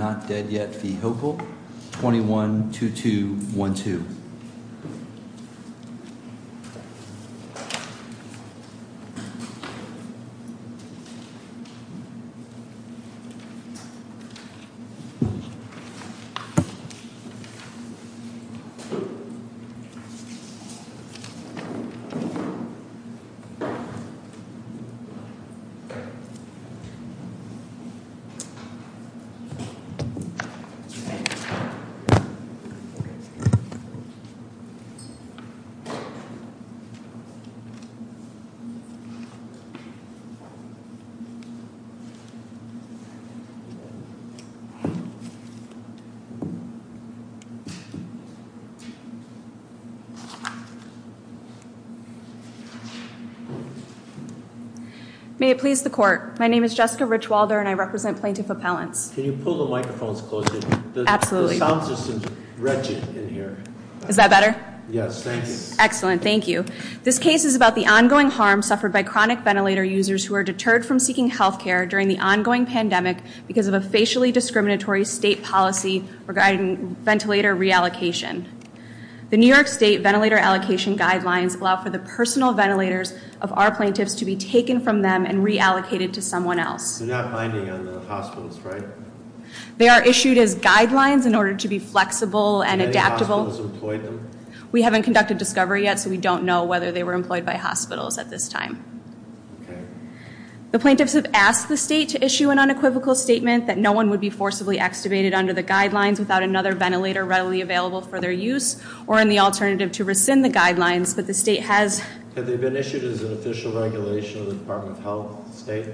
and Not Dead Yet v. Hopell, 21-2212. May it please the court, my name is Jessica Richwalder and I represent Plaintiff Appellants. Can you pull the microphones closer? Absolutely. The sound system is wretched in here. Is that better? Yes, thank you. Excellent, thank you. This case is about the ongoing harm suffered by chronic ventilator users who are deterred from seeking healthcare during the ongoing pandemic because of a facially discriminatory state policy regarding ventilator reallocation. The New York State Ventilator Allocation Guidelines allow for the personal ventilators of our plaintiffs to be taken from them and reallocated to someone else. They're not binding on the hospitals, right? They are issued as guidelines in order to be flexible and adaptable. Have any hospitals employed them? We haven't conducted discovery yet, so we don't know whether they were employed by hospitals at this time. Okay. The plaintiffs have asked the state to issue an unequivocal statement that no one would be forcibly extubated under the guidelines without another ventilator readily available for their use or in the alternative to rescind the guidelines, but the state has... Have they been issued as an official regulation of the Department of Health state?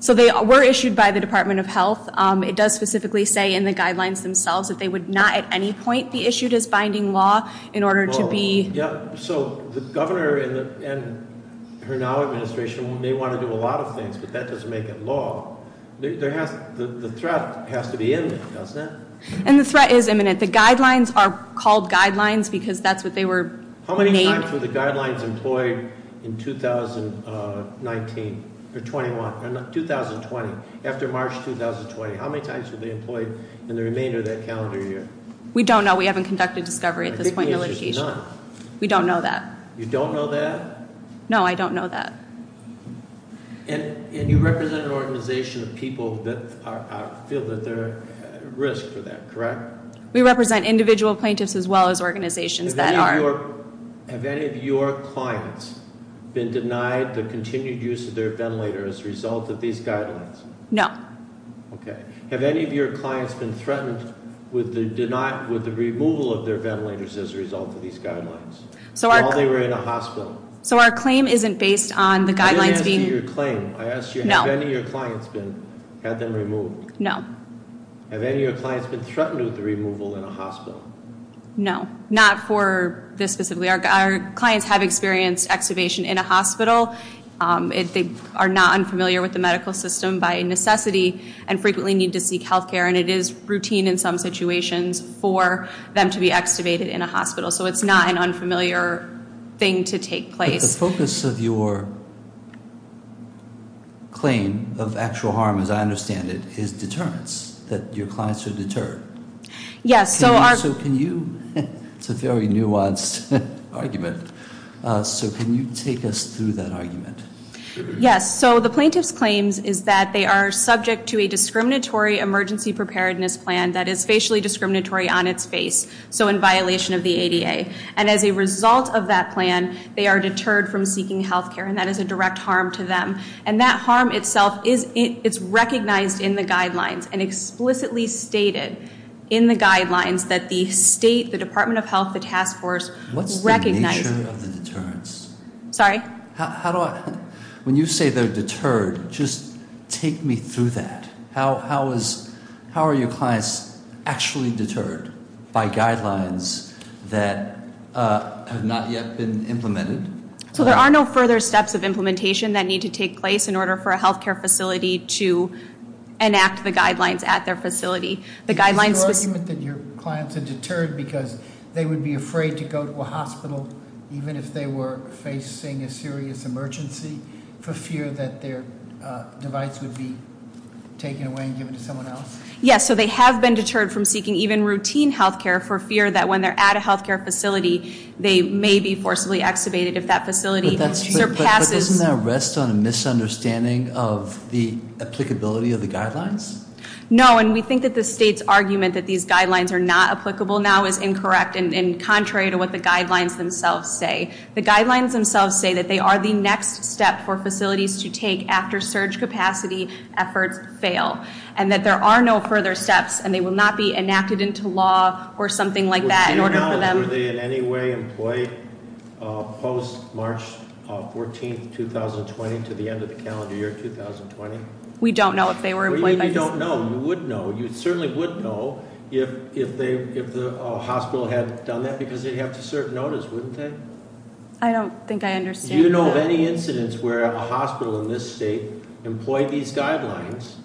So they were issued by the Department of Health. It does specifically say in the guidelines themselves that they would not at any point be issued as binding law in order to be... Yeah, so the governor and her now administration may want to do a lot of things, but that doesn't make it law. The threat has to be imminent, doesn't it? And the threat is imminent. The guidelines are called guidelines because that's what they were made... How many times were they employed in 2019, or 21, or 2020, after March 2020? How many times were they employed in the remainder of that calendar year? We don't know. We haven't conducted discovery at this point in the litigation. I think we have just not. We don't know that. You don't know that? No, I don't know that. And you represent an organization of people that feel that they're at risk for that, correct? We represent individual plaintiffs as well as organizations that are... Have any of your clients been denied the continued use of their ventilator as a result of these guidelines? No. Okay. Have any of your clients been threatened with the removal of their ventilators as a result of these guidelines? While they were in a hospital? So our claim isn't based on the guidelines being... I didn't ask you your claim. I asked you, have any of your clients had them removed? No. Have any of your clients been threatened with the removal in a hospital? No, not for this specifically. Our clients have experienced extubation in a hospital. They are not unfamiliar with the medical system by necessity and frequently need to seek health care. And it is routine in some situations for them to be extubated in a hospital. So it's not an unfamiliar thing to take place. But the focus of your claim of actual harm, as I understand it, is deterrence, that your clients are deterred. Yes. So can you... It's a very nuanced argument. So can you take us through that argument? Yes. So the plaintiff's claims is that they are subject to a discriminatory emergency preparedness plan that is facially discriminatory on its face. So in violation of the ADA. And as a result of that plan, they are deterred from seeking health care. And that is a direct harm to them. And that harm itself is recognized in the guidelines and explicitly stated in the guidelines that the state, the Department of Health, the task force recognized. What's the nature of the deterrence? Sorry? How do I... When you say they're deterred, just take me through that. How are your clients actually deterred by guidelines that have not yet been implemented? So there are no further steps of implementation that need to take place in order for a health care facility to enact the guidelines at their facility. The guidelines... Is your argument that your clients are deterred because they would be afraid to go to a hospital, even if they were facing a serious emergency, for fear that their device would be taken away and given to someone else? Yes. So they have been deterred from seeking even routine health care for fear that when they're at a health care facility, they may be forcibly extubated if that facility surpasses... But doesn't that rest on a misunderstanding of the applicability of the guidelines? No. And we think that the state's argument that these guidelines are not applicable now is incorrect and contrary to what the guidelines themselves say. The guidelines themselves say that they are the next step for facilities to take after surge capacity efforts fail. And that there are no further steps and they will not be enacted into law or something like that in order for them... Would you know if they in any way employed post March 14th, 2020 to the end of the calendar year 2020? We don't know if they were employed by... What do you mean you don't know? You would know. You certainly would know if the hospital had done that because they'd have to assert notice, wouldn't they? I don't think I understand that. Do you know of any incidents where a hospital in this state employed these guidelines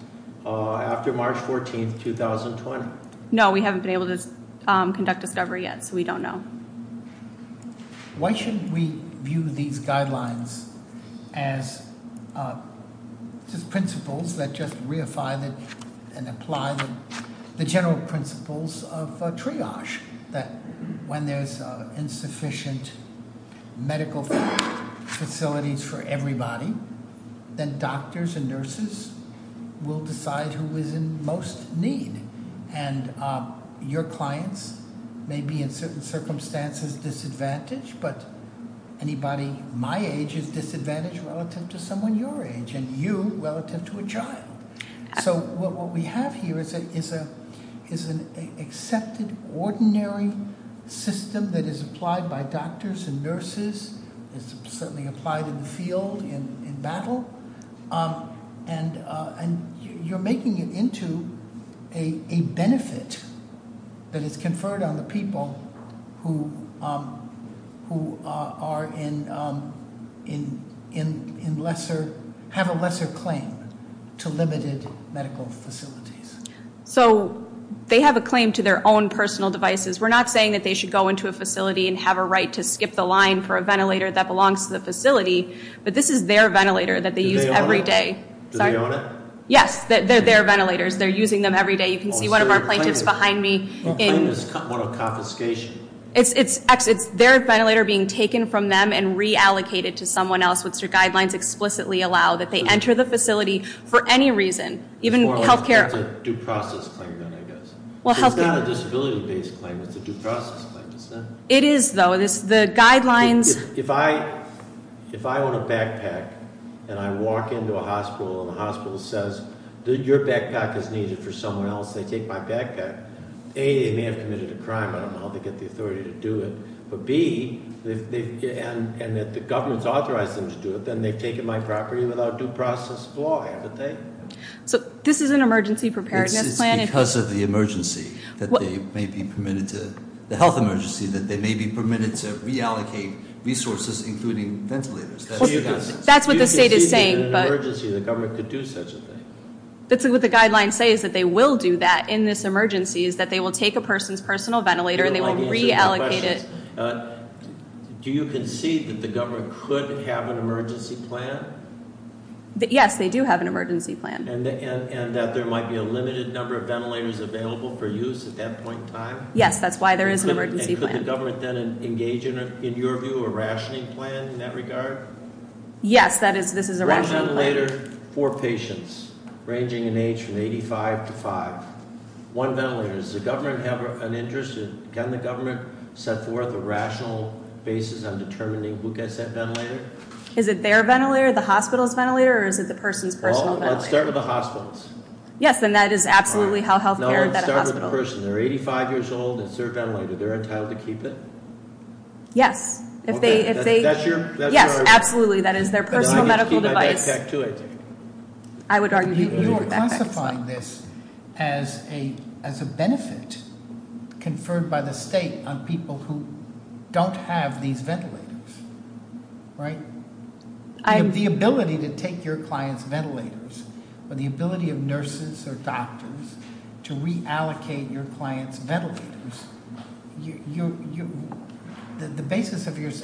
after March 14th, 2020? No, we haven't been able to conduct discovery yet, so we don't know. Why shouldn't we view these guidelines as just principles that just reify and apply the general principles of triage? That when there's insufficient medical facilities for everybody, then doctors and nurses will decide who is in most need. And your clients may be in certain circumstances disadvantaged, but anybody my age is disadvantaged relative to someone your age and you relative to a child. So what we have here is an accepted, ordinary system that is applied by doctors and nurses. It's certainly applied in the field, in battle. And you're making it into a benefit that is conferred on the people who have a lesser claim to limited medical facilities. So they have a claim to their own personal devices. We're not saying that they should go into a facility and have a right to skip the line for a ventilator that belongs to the facility. But this is their ventilator that they use every day. Do they own it? Yes, they're ventilators. They're using them every day. You can see one of our plaintiffs behind me. What kind of confiscation? It's their ventilator being taken from them and reallocated to someone else, which the guidelines explicitly allow. That they enter the facility for any reason. It's a due process claim then, I guess. It's not a disability-based claim. It's a due process claim. It is, though. The guidelines- If I own a backpack and I walk into a hospital and the hospital says, your backpack is needed for someone else, they take my backpack. A, they may have committed a crime. I don't know how they get the authority to do it. But B, and that the government's authorized them to do it, then they've taken my property without due process of law, haven't they? So this is an emergency preparedness plan. I guess it's because of the health emergency that they may be permitted to reallocate resources, including ventilators. That's what the state is saying, but- Do you concede that in an emergency the government could do such a thing? That's what the guidelines say, is that they will do that in this emergency, is that they will take a person's personal ventilator and they will reallocate it. Do you concede that the government could have an emergency plan? Yes, they do have an emergency plan. And that there might be a limited number of ventilators available for use at that point in time? Yes, that's why there is an emergency plan. And could the government then engage in, in your view, a rationing plan in that regard? Yes, this is a rationing plan. One ventilator for patients ranging in age from 85 to 5. One ventilator. Does the government have an interest? Can the government set forth a rational basis on determining who gets that ventilator? Is it their ventilator, the hospital's ventilator, or is it the person's personal ventilator? Let's start with the hospitals. Yes, and that is absolutely how healthcare is at a hospital. No, let's start with the person. They're 85 years old. It's their ventilator. They're entitled to keep it? Yes. If they- Okay, that's your- Yes, absolutely. That is their personal medical device. And I get to keep my backpack too, I take it? I would argue that you keep your backpack as well. You are classifying this as a benefit conferred by the state on people who don't have these ventilators, right? The ability to take your client's ventilators, or the ability of nurses or doctors to reallocate your client's ventilators,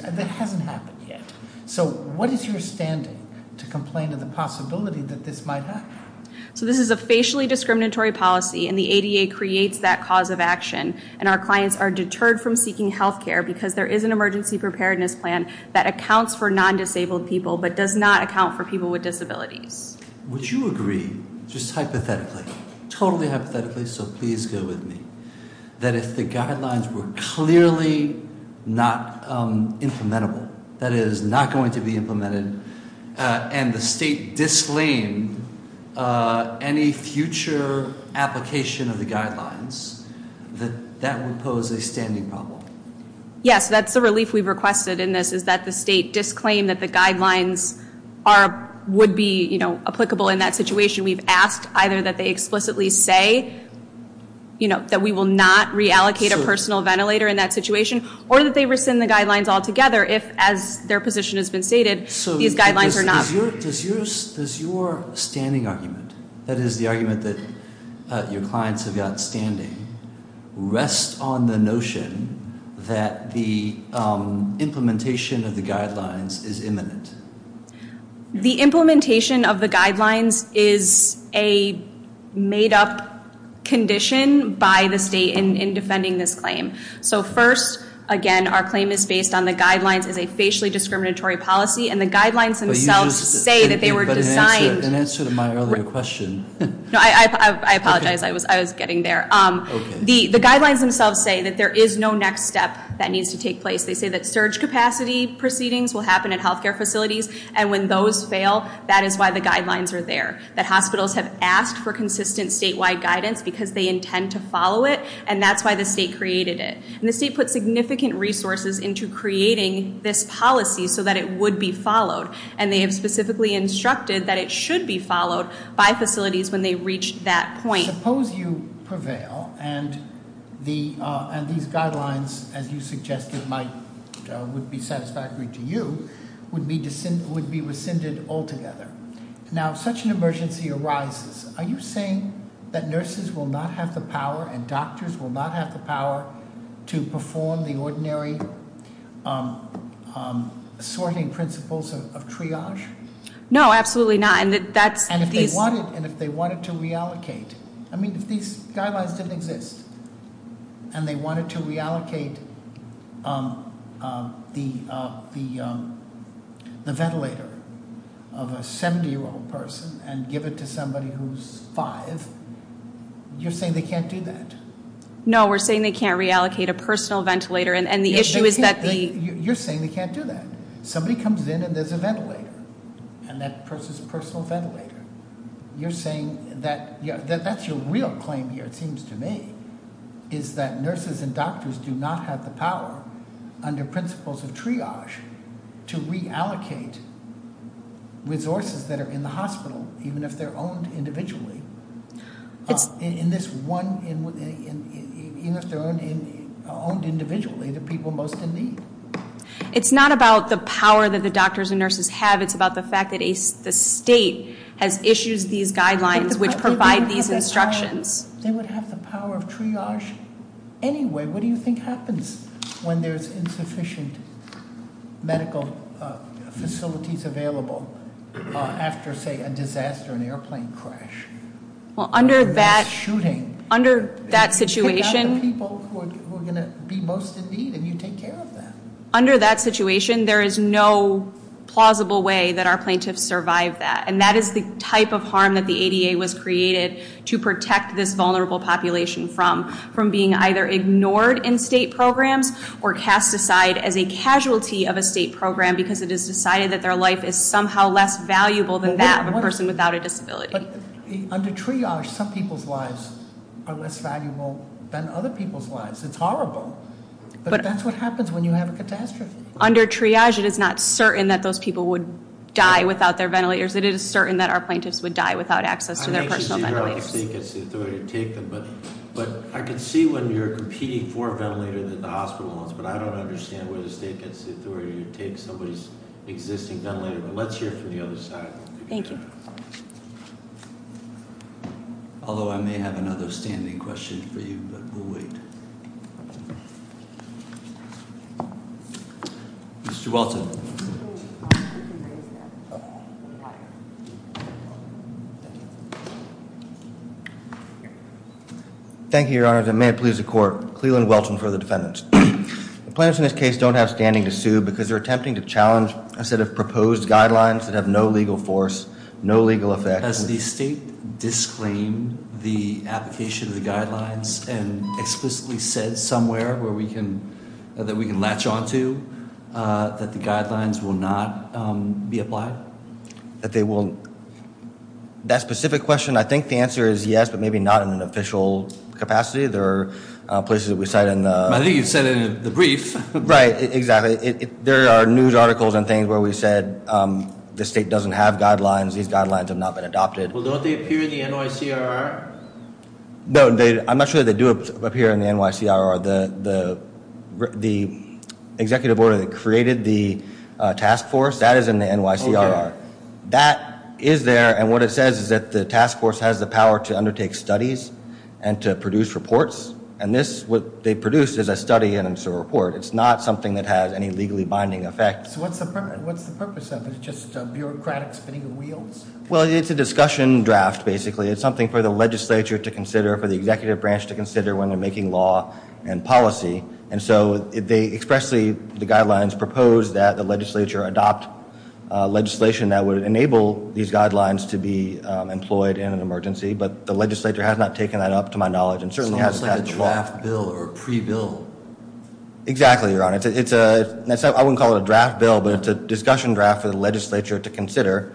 that hasn't happened yet. So what is your standing to complain of the possibility that this might happen? So this is a facially discriminatory policy, and the ADA creates that cause of action. And our clients are deterred from seeking healthcare because there is an emergency preparedness plan that accounts for non-disabled people, but does not account for people with disabilities. Would you agree, just hypothetically, totally hypothetically, so please go with me, that if the guidelines were clearly not implementable, that is not going to be implemented, and the state disclaimed any future application of the guidelines, that that would pose a standing problem? Yes, that's the relief we've requested in this, is that the state disclaimed that the guidelines would be applicable in that situation. We've asked either that they explicitly say that we will not reallocate a personal ventilator in that situation, or that they rescind the guidelines altogether if, as their position has been stated, these guidelines are not. So does your standing argument, that is the argument that your clients have got standing, rest on the notion that the implementation of the guidelines is imminent? The implementation of the guidelines is a made-up condition by the state in defending this claim. So first, again, our claim is based on the guidelines as a facially discriminatory policy, and the guidelines themselves say that they were designed- But in answer to my earlier question- No, I apologize, I was getting there. Okay. The guidelines themselves say that there is no next step that needs to take place. They say that surge capacity proceedings will happen at healthcare facilities, and when those fail, that is why the guidelines are there, that hospitals have asked for consistent statewide guidance because they intend to follow it, and that's why the state created it. And the state put significant resources into creating this policy so that it would be followed, and they have specifically instructed that it should be followed by facilities when they reach that point. Suppose you prevail and these guidelines, as you suggested, would be satisfactory to you, would be rescinded altogether. Now, if such an emergency arises, are you saying that nurses will not have the power and doctors will not have the power to perform the ordinary sorting principles of triage? No, absolutely not. And if they wanted to reallocate, I mean, if these guidelines didn't exist, and they wanted to reallocate the ventilator of a 70-year-old person and give it to somebody who's five, you're saying they can't do that? No, we're saying they can't reallocate a personal ventilator, and the issue is that the- You're saying they can't do that. Somebody comes in and there's a ventilator, and that person's a personal ventilator. You're saying that, that's your real claim here, it seems to me, is that nurses and doctors do not have the power under principles of triage to reallocate resources that are in the hospital, even if they're owned individually. In this one, even if they're owned individually, the people most in need. It's not about the power that the doctors and nurses have. It's about the fact that the state has issued these guidelines which provide these instructions. They would have the power of triage anyway. What do you think happens when there's insufficient medical facilities available after, say, a disaster, an airplane crash, a mass shooting? Under that situation- You pick out the people who are going to be most in need, and you take care of them. Under that situation, there is no plausible way that our plaintiffs survive that, and that is the type of harm that the ADA was created to protect this vulnerable population from, from being either ignored in state programs or cast aside as a casualty of a state program because it is decided that their life is somehow less valuable than that of a person without a disability. Under triage, some people's lives are less valuable than other people's lives. It's horrible, but that's what happens when you have a catastrophe. Under triage, it is not certain that those people would die without their ventilators. It is certain that our plaintiffs would die without access to their personal ventilators. I don't know where the state gets the authority to take them, but I can see when you're competing for a ventilator that the hospital wants, but I don't understand where the state gets the authority to take somebody's existing ventilator. Let's hear from the other side. Thank you. Although I may have another standing question for you, but we'll wait. Mr. Welton. Thank you, Your Honors, and may it please the Court. Cleland Welton for the defendants. The plaintiffs in this case don't have standing to sue because they're attempting to challenge a set of proposed guidelines that have no legal force, no legal effect. Has the state disclaimed the application of the guidelines and explicitly said somewhere that we can latch on to that the guidelines will not be applied? That specific question, I think the answer is yes, but maybe not in an official capacity. There are places that we cite in the- I think you've said it in the brief. Right, exactly. There are news articles and things where we've said the state doesn't have guidelines. These guidelines have not been adopted. Well, don't they appear in the NYCRR? No, I'm not sure they do appear in the NYCRR. The executive order that created the task force, that is in the NYCRR. That is there, and what it says is that the task force has the power to undertake studies and to produce reports, and this, what they produce is a study and it's a report. It's not something that has any legally binding effect. So what's the purpose of it? Just a bureaucratic spinning of wheels? Well, it's a discussion draft, basically. It's something for the legislature to consider, for the executive branch to consider when they're making law and policy, and so they expressly, the guidelines propose that the legislature adopt legislation that would enable these guidelines to be employed in an emergency, but the legislature has not taken that up, to my knowledge, and certainly has not- It's almost like a draft bill or a pre-bill. Exactly, Your Honor. I wouldn't call it a draft bill, but it's a discussion draft for the legislature to consider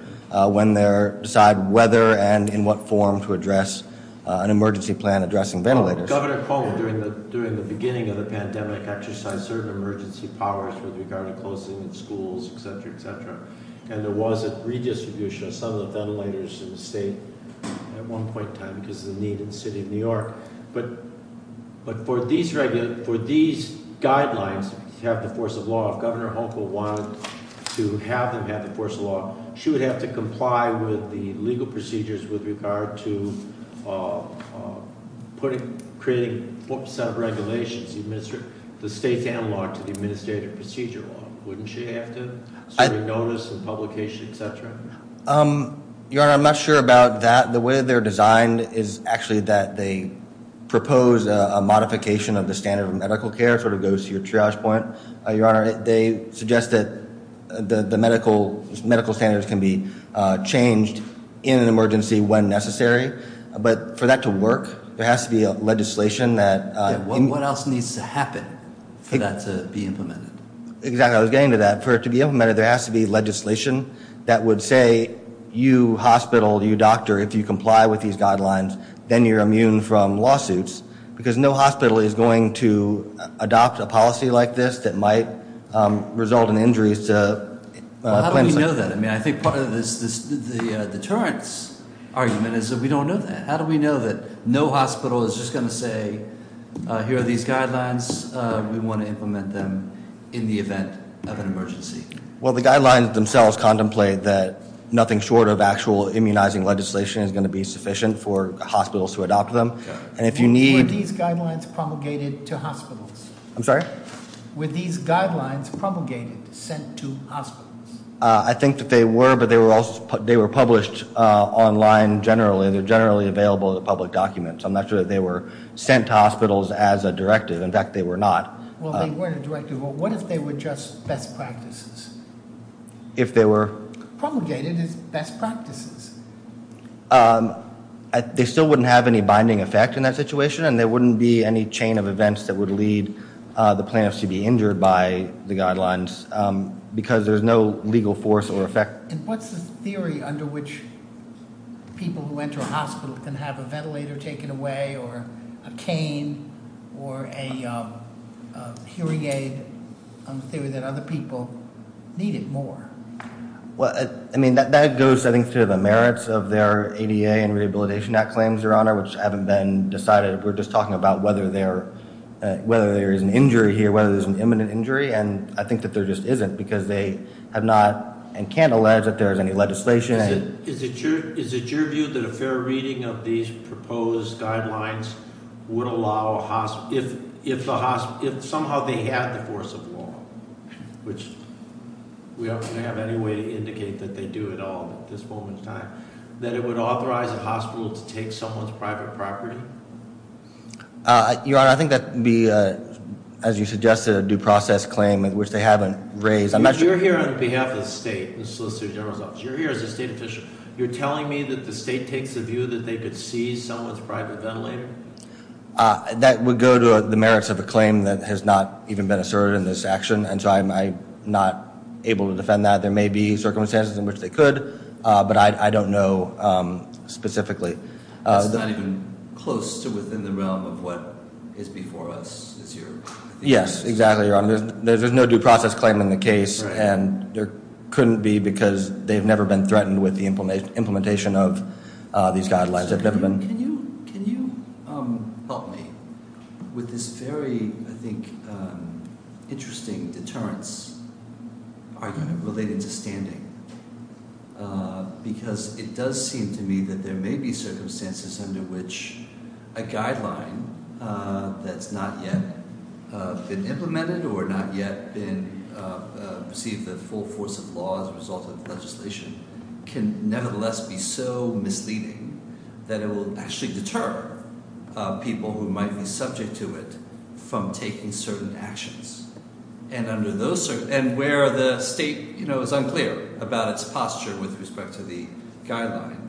when they decide whether and in what form to address an emergency plan addressing ventilators. Governor Cuomo, during the beginning of the pandemic, exercised certain emergency powers with regard to closing of schools, etc., etc., and there was a redistribution of some of the ventilators in the state at one point in time because of the need in the city of New York. But for these guidelines to have the force of law, if Governor Honko wanted to have them have the force of law, she would have to comply with the legal procedures with regard to creating some regulations, the state's analog to the administrative procedure law. Wouldn't she have to? Certainly notice and publication, etc. Your Honor, I'm not sure about that. The way they're designed is actually that they propose a modification of the standard of medical care. It sort of goes to your triage point, Your Honor. They suggest that the medical standards can be changed in an emergency when necessary. But for that to work, there has to be legislation that- What else needs to happen for that to be implemented? Exactly, I was getting to that. For it to be implemented, there has to be legislation that would say, you hospital, you doctor, if you comply with these guidelines, then you're immune from lawsuits because no hospital is going to adopt a policy like this that might result in injuries to- How do we know that? I think part of the deterrence argument is that we don't know that. How do we know that no hospital is just going to say, here are these guidelines, we want to implement them in the event of an emergency? Well, the guidelines themselves contemplate that nothing short of actual immunizing legislation is going to be sufficient for hospitals to adopt them. And if you need- Were these guidelines promulgated to hospitals? I'm sorry? Were these guidelines promulgated, sent to hospitals? I think that they were, but they were published online generally. They're generally available in the public documents. I'm not sure that they were sent to hospitals as a directive. In fact, they were not. Well, they weren't a directive. Well, what if they were just best practices? If they were- Promulgated as best practices. They still wouldn't have any binding effect in that situation, and there wouldn't be any chain of events that would lead the plaintiffs to be injured by the guidelines because there's no legal force or effect. And what's the theory under which people who enter a hospital can have a ventilator taken away, or a cane, or a hearing aid, a theory that other people need it more? Well, I mean, that goes, I think, to the merits of their ADA and Rehabilitation Act claims, Your Honor, which haven't been decided. We're just talking about whether there is an injury here, whether there's an imminent injury, and I think that there just isn't because they have not and can't allege that there is any legislation. Is it your view that a fair reading of these proposed guidelines would allow a hospital, if somehow they had the force of law, which we don't have any way to indicate that they do at all at this moment in time, that it would authorize a hospital to take someone's private property? Your Honor, I think that would be, as you suggested, a due process claim, which they haven't raised. You're here on behalf of the state, the Solicitor General's office. You're here as a state official. You're telling me that the state takes a view that they could seize someone's private ventilator? That would go to the merits of a claim that has not even been asserted in this action, and so I'm not able to defend that. There may be circumstances in which they could, but I don't know specifically. That's not even close to within the realm of what is before us, is your view? Yes, exactly, Your Honor. There's no due process claim in the case, and there couldn't be because they've never been threatened with the implementation of these guidelines. Can you help me with this very, I think, interesting deterrence? Are you going to relate it to standing? Because it does seem to me that there may be circumstances under which a guideline that's not yet been implemented or not yet been received the full force of law as a result of legislation can nevertheless be so misleading that it will actually deter people who might be subject to it from taking certain actions. And where the state is unclear about its posture with respect to the guideline,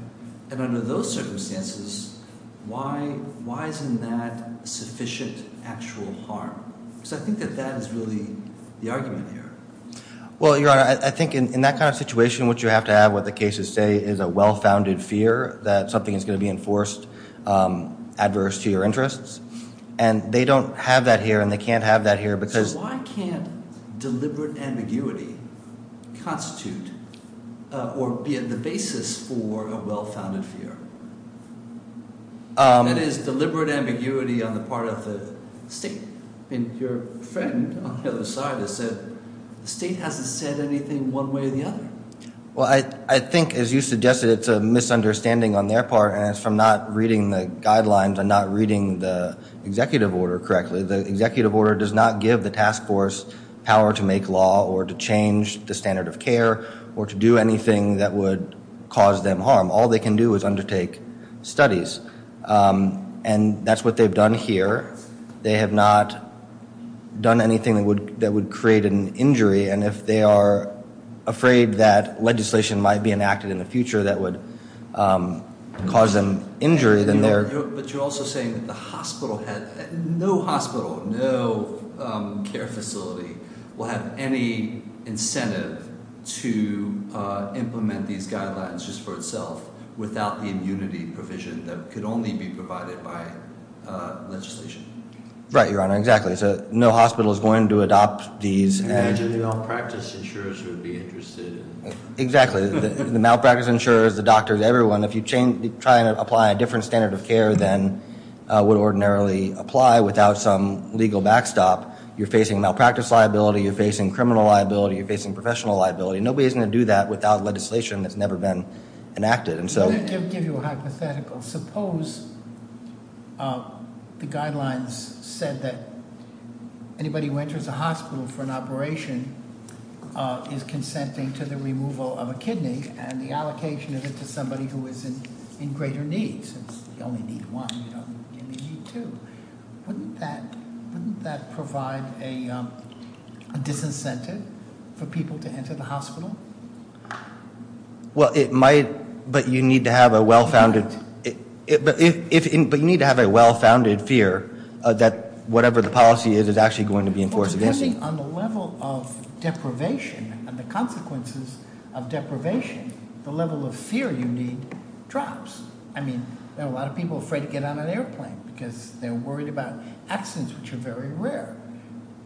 and under those circumstances, why isn't that sufficient actual harm? Because I think that that is really the argument here. Well, Your Honor, I think in that kind of situation, what you have to have, what the cases say, is a well-founded fear that something is going to be enforced adverse to your interests, and they don't have that here, and they can't have that here. So why can't deliberate ambiguity constitute or be the basis for a well-founded fear? That is, deliberate ambiguity on the part of the state. I mean, your friend on the other side has said the state hasn't said anything one way or the other. Well, I think, as you suggested, it's a misunderstanding on their part, and it's from not reading the guidelines and not reading the executive order correctly. The executive order does not give the task force power to make law or to change the standard of care or to do anything that would cause them harm. All they can do is undertake studies, and that's what they've done here. They have not done anything that would create an injury, and if they are afraid that legislation might be enacted in the future that would cause them injury, then they're- But you're also saying that the hospital, no hospital, no care facility, will have any incentive to implement these guidelines just for itself without the immunity provision that could only be provided by legislation. Right, Your Honor, exactly. So no hospital is going to adopt these and- Imagine the malpractice insurers would be interested in- Exactly. The malpractice insurers, the doctors, everyone, if you try and apply a different standard of care than would ordinarily apply without some legal backstop, you're facing malpractice liability, you're facing criminal liability, you're facing professional liability. Nobody's going to do that without legislation that's never been enacted. Let me give you a hypothetical. Suppose the guidelines said that anybody who enters a hospital for an operation is consenting to the removal of a kidney and the allocation of it to somebody who is in greater need, since you only need one, you don't need two. Wouldn't that provide a disincentive for people to enter the hospital? Well, it might, but you need to have a well-founded, but you need to have a well-founded fear that whatever the policy is is actually going to be enforced against you. Well, depending on the level of deprivation and the consequences of deprivation, the level of fear you need drops. I mean, there are a lot of people afraid to get on an airplane because they're worried about accidents, which are very rare.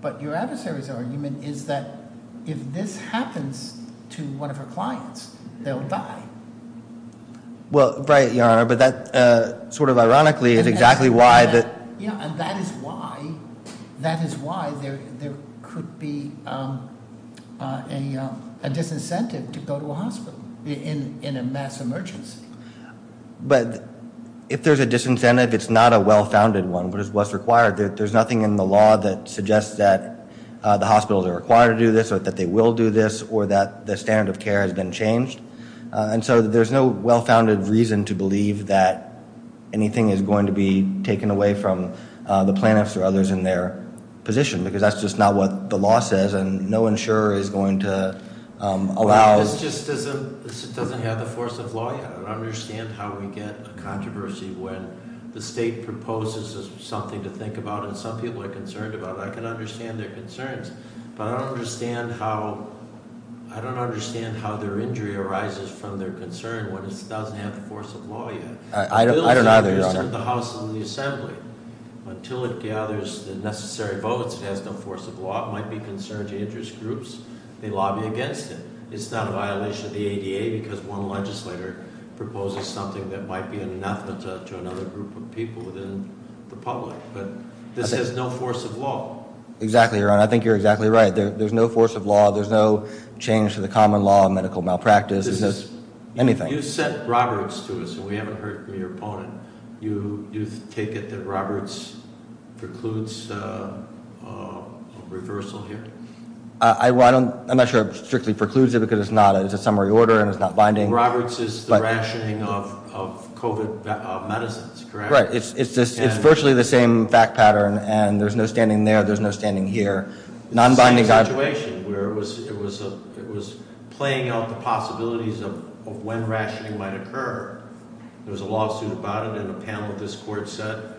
But your adversary's argument is that if this happens to one of her clients, they'll die. Well, right, Your Honor, but that sort of ironically is exactly why- Yeah, and that is why there could be a disincentive to go to a hospital in a mass emergency. But if there's a disincentive, it's not a well-founded one, but it's what's required. There's nothing in the law that suggests that the hospitals are required to do this, or that they will do this, or that the standard of care has been changed. And so there's no well-founded reason to believe that anything is going to be taken away from the plaintiffs or others in their position, because that's just not what the law says, and no insurer is going to allow- This just doesn't have the force of law yet. I don't understand how we get a controversy when the state proposes something to think about and some people are concerned about it. I can understand their concerns, but I don't understand how their injury arises from their concern when it doesn't have the force of law yet. I don't either, Your Honor. The House and the Assembly, until it gathers the necessary votes, it has no force of law. It might be concerned to interest groups. They lobby against it. It's not a violation of the ADA, because one legislator proposes something that might be an anathema to another group of people within the public. But this has no force of law. Exactly, Your Honor. I think you're exactly right. There's no force of law. There's no change to the common law of medical malpractice. This is- Anything. You sent Roberts to us, and we haven't heard from your opponent. You take it that Roberts precludes a reversal here? I'm not sure it strictly precludes it, because it's a summary order and it's not binding. Roberts is the rationing of COVID medicines, correct? Right. It's virtually the same fact pattern, and there's no standing there, there's no standing here. Non-binding- It's the same situation, where it was playing out the possibilities of when rationing might occur. There was a lawsuit about it, and a panel of this court said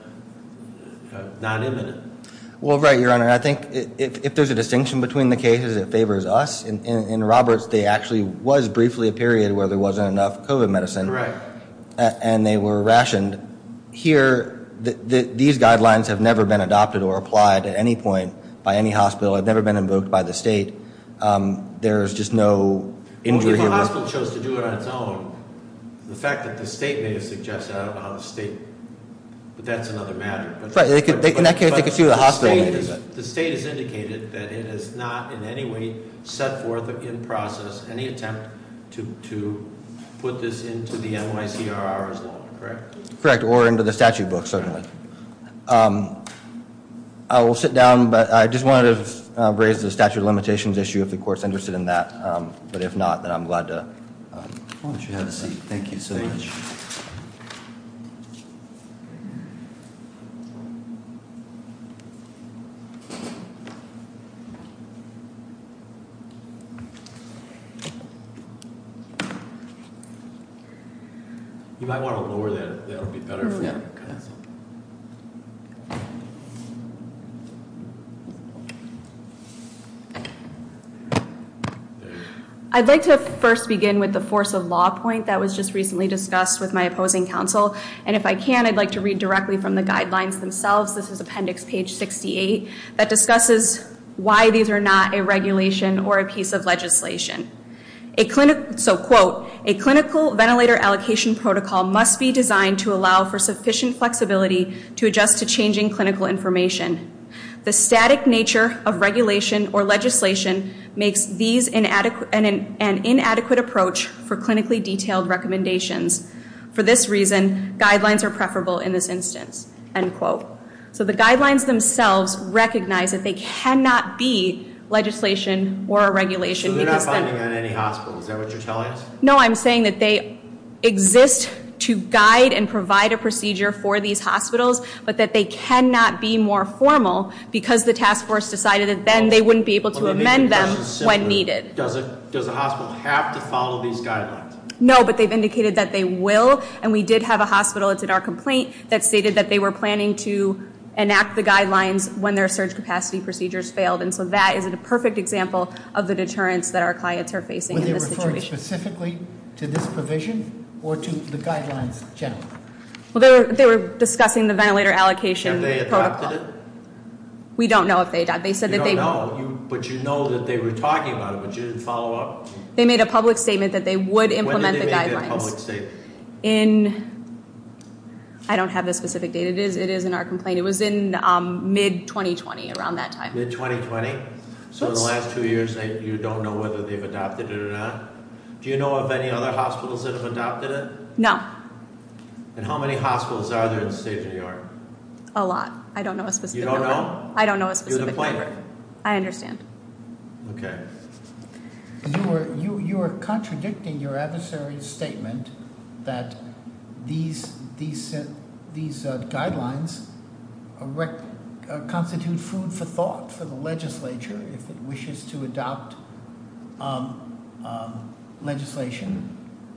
not imminent. Well, right, Your Honor. I think if there's a distinction between the cases, it favors us. In Roberts, there actually was briefly a period where there wasn't enough COVID medicine. Correct. And they were rationed. Here, these guidelines have never been adopted or applied at any point by any hospital. They've never been invoked by the state. There's just no injury- Well, if a hospital chose to do it on its own, the fact that the state may have suggested it, I don't know how the state- But that's another matter. In that case, they could sue the hospital. The state has indicated that it has not in any way set forth in process any attempt to put this into the NYCRR's law, correct? Correct, or into the statute book, certainly. I will sit down, but I just wanted to raise the statute of limitations issue, if the court's interested in that. But if not, then I'm glad to- Why don't you have a seat? Thank you so much. Thank you. You might want to lower that. That'll be better for you. Yeah. Thank you. I'd like to first begin with the force of law point that was just recently discussed with my opposing counsel. And if I can, I'd like to read directly from the guidelines themselves. This is appendix page 68 that discusses why these are not a regulation or a piece of legislation. So, quote, a clinical ventilator allocation protocol must be designed to allow for sufficient flexibility to adjust to changing clinical information. The static nature of regulation or legislation makes these an inadequate approach for clinically detailed recommendations. For this reason, guidelines are preferable in this instance, end quote. So the guidelines themselves recognize that they cannot be legislation or a regulation- Is that what you're telling us? No, I'm saying that they exist to guide and provide a procedure for these hospitals. But that they cannot be more formal because the task force decided that then they wouldn't be able to amend them when needed. Does a hospital have to follow these guidelines? No, but they've indicated that they will. And we did have a hospital, it's in our complaint, that stated that they were planning to enact the guidelines when their surge capacity procedures failed. And so that is a perfect example of the deterrence that our clients are facing in this situation. Were they referring specifically to this provision or to the guidelines generally? Well, they were discussing the ventilator allocation protocol. Have they adopted it? We don't know if they adopted it. You don't know, but you know that they were talking about it, but you didn't follow up? They made a public statement that they would implement the guidelines. When did they make that public statement? I don't have the specific date. It is in our complaint. It was in mid-2020, around that time. Mid-2020? So in the last two years, you don't know whether they've adopted it or not? Do you know of any other hospitals that have adopted it? No. And how many hospitals are there in the state of New York? A lot. I don't know a specific number. You don't know? I don't know a specific number. You're the plaintiff. I understand. Okay. You are contradicting your adversary's statement that these guidelines constitute food for thought for the legislature if it wishes to adopt legislation,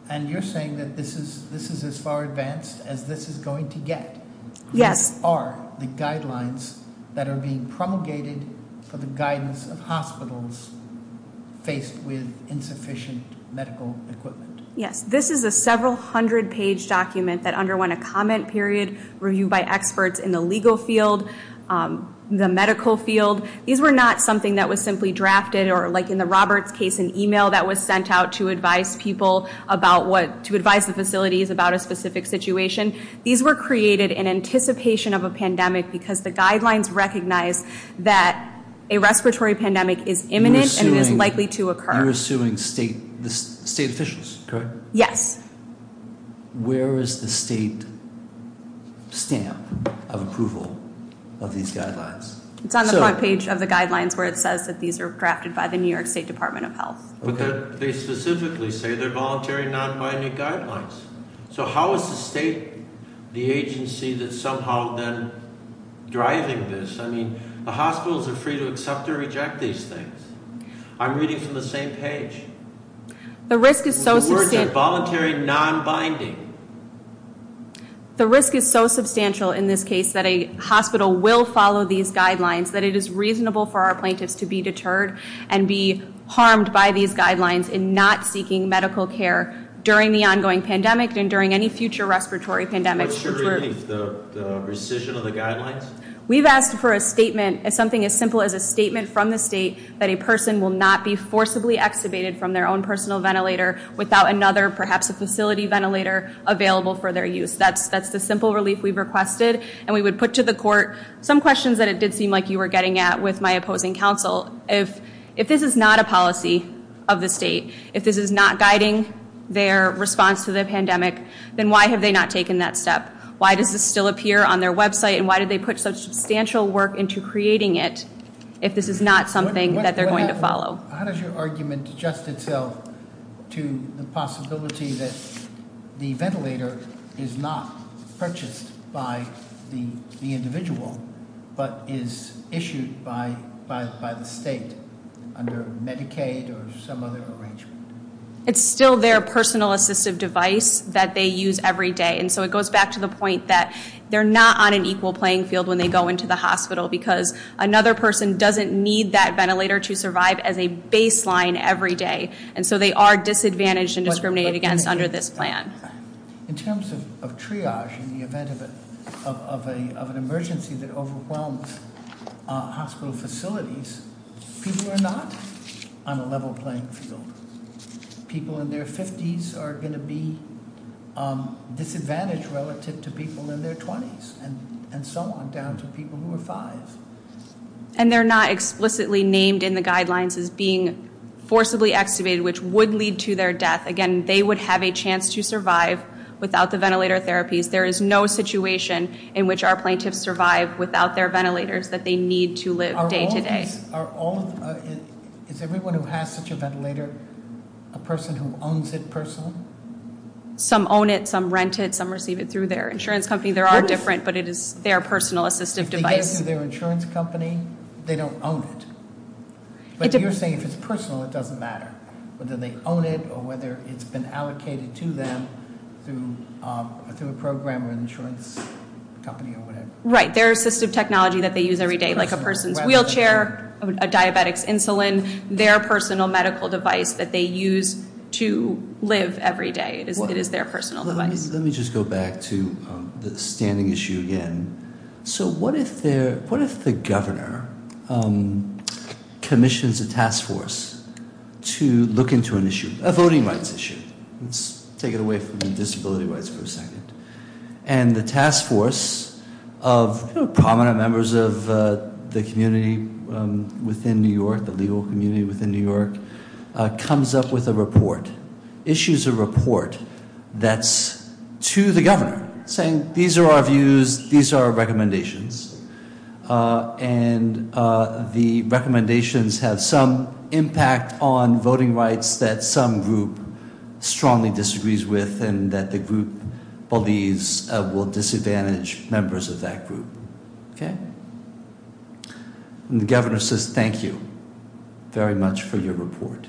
and you're saying that this is as far advanced as this is going to get. Yes. These are the guidelines that are being promulgated for the guidance of hospitals faced with insufficient medical equipment. Yes. This is a several-hundred-page document that underwent a comment period, reviewed by experts in the legal field, the medical field. These were not something that was simply drafted, or like in the Roberts case, an email that was sent out to advise people about what to advise the facilities about a specific situation. These were created in anticipation of a pandemic because the guidelines recognize that a respiratory pandemic is imminent and is likely to occur. You're assuming state officials, correct? Yes. Where is the state stamp of approval of these guidelines? It's on the front page of the guidelines where it says that these are drafted by the New York State Department of Health. But they specifically say they're voluntary, non-binding guidelines. So how is the state, the agency, that's somehow then driving this? I mean, the hospitals are free to accept or reject these things. I'm reading from the same page. The risk is so substantial. The words are voluntary, non-binding. The risk is so substantial in this case that a hospital will follow these guidelines, that it is reasonable for our plaintiffs to be deterred and be harmed by these guidelines in not seeking medical care during the ongoing pandemic and during any future respiratory pandemic. What's the relief, the rescission of the guidelines? We've asked for a statement, something as simple as a statement from the state that a person will not be forcibly extubated from their own personal ventilator without another, perhaps a facility ventilator, available for their use. That's the simple relief we've requested. And we would put to the court some questions that it did seem like you were getting at with my opposing counsel. If this is not a policy of the state, if this is not guiding their response to the pandemic, then why have they not taken that step? Why does this still appear on their website, and why did they put such substantial work into creating it if this is not something that they're going to follow? How does your argument adjust itself to the possibility that the ventilator is not purchased by the individual but is issued by the state under Medicaid or some other arrangement? It's still their personal assistive device that they use every day. And so it goes back to the point that they're not on an equal playing field when they go into the hospital because another person doesn't need that ventilator to survive as a baseline every day. And so they are disadvantaged and discriminated against under this plan. In terms of triage in the event of an emergency that overwhelms hospital facilities, people are not on a level playing field. People in their 50s are going to be disadvantaged relative to people in their 20s and so on, down to people who are 5. And they're not explicitly named in the guidelines as being forcibly extubated, which would lead to their death. Again, they would have a chance to survive without the ventilator therapies. There is no situation in which our plaintiffs survive without their ventilators that they need to live day to day. Is everyone who has such a ventilator a person who owns it personally? Some own it. Some rent it. Some receive it through their insurance company. They are different, but it is their personal assistive device. If they get it through their insurance company, they don't own it. But you're saying if it's personal, it doesn't matter. Whether they own it or whether it's been allocated to them through a program or an insurance company or whatever. Right. Their assistive technology that they use every day, like a person's wheelchair, a diabetic's insulin, their personal medical device that they use to live every day. It is their personal device. Let me just go back to the standing issue again. What if the governor commissions a task force to look into an issue, a voting rights issue? Let's take it away from the disability rights for a second. And the task force of prominent members of the community within New York, the legal community within New York, comes up with a report, issues a report that's to the governor, saying these are our views, these are our recommendations, and the recommendations have some impact on voting rights that some group strongly disagrees with and that the group believes will disadvantage members of that group. Okay? And the governor says, thank you very much for your report.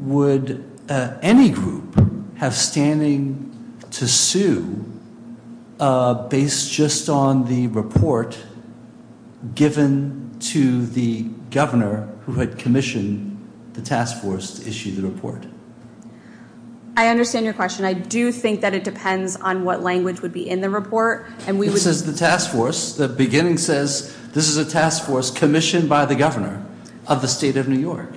Would any group have standing to sue based just on the report given to the governor who had commissioned the task force to issue the report? I understand your question. I do think that it depends on what language would be in the report. It says the task force. The beginning says this is a task force commissioned by the governor of the state of New York.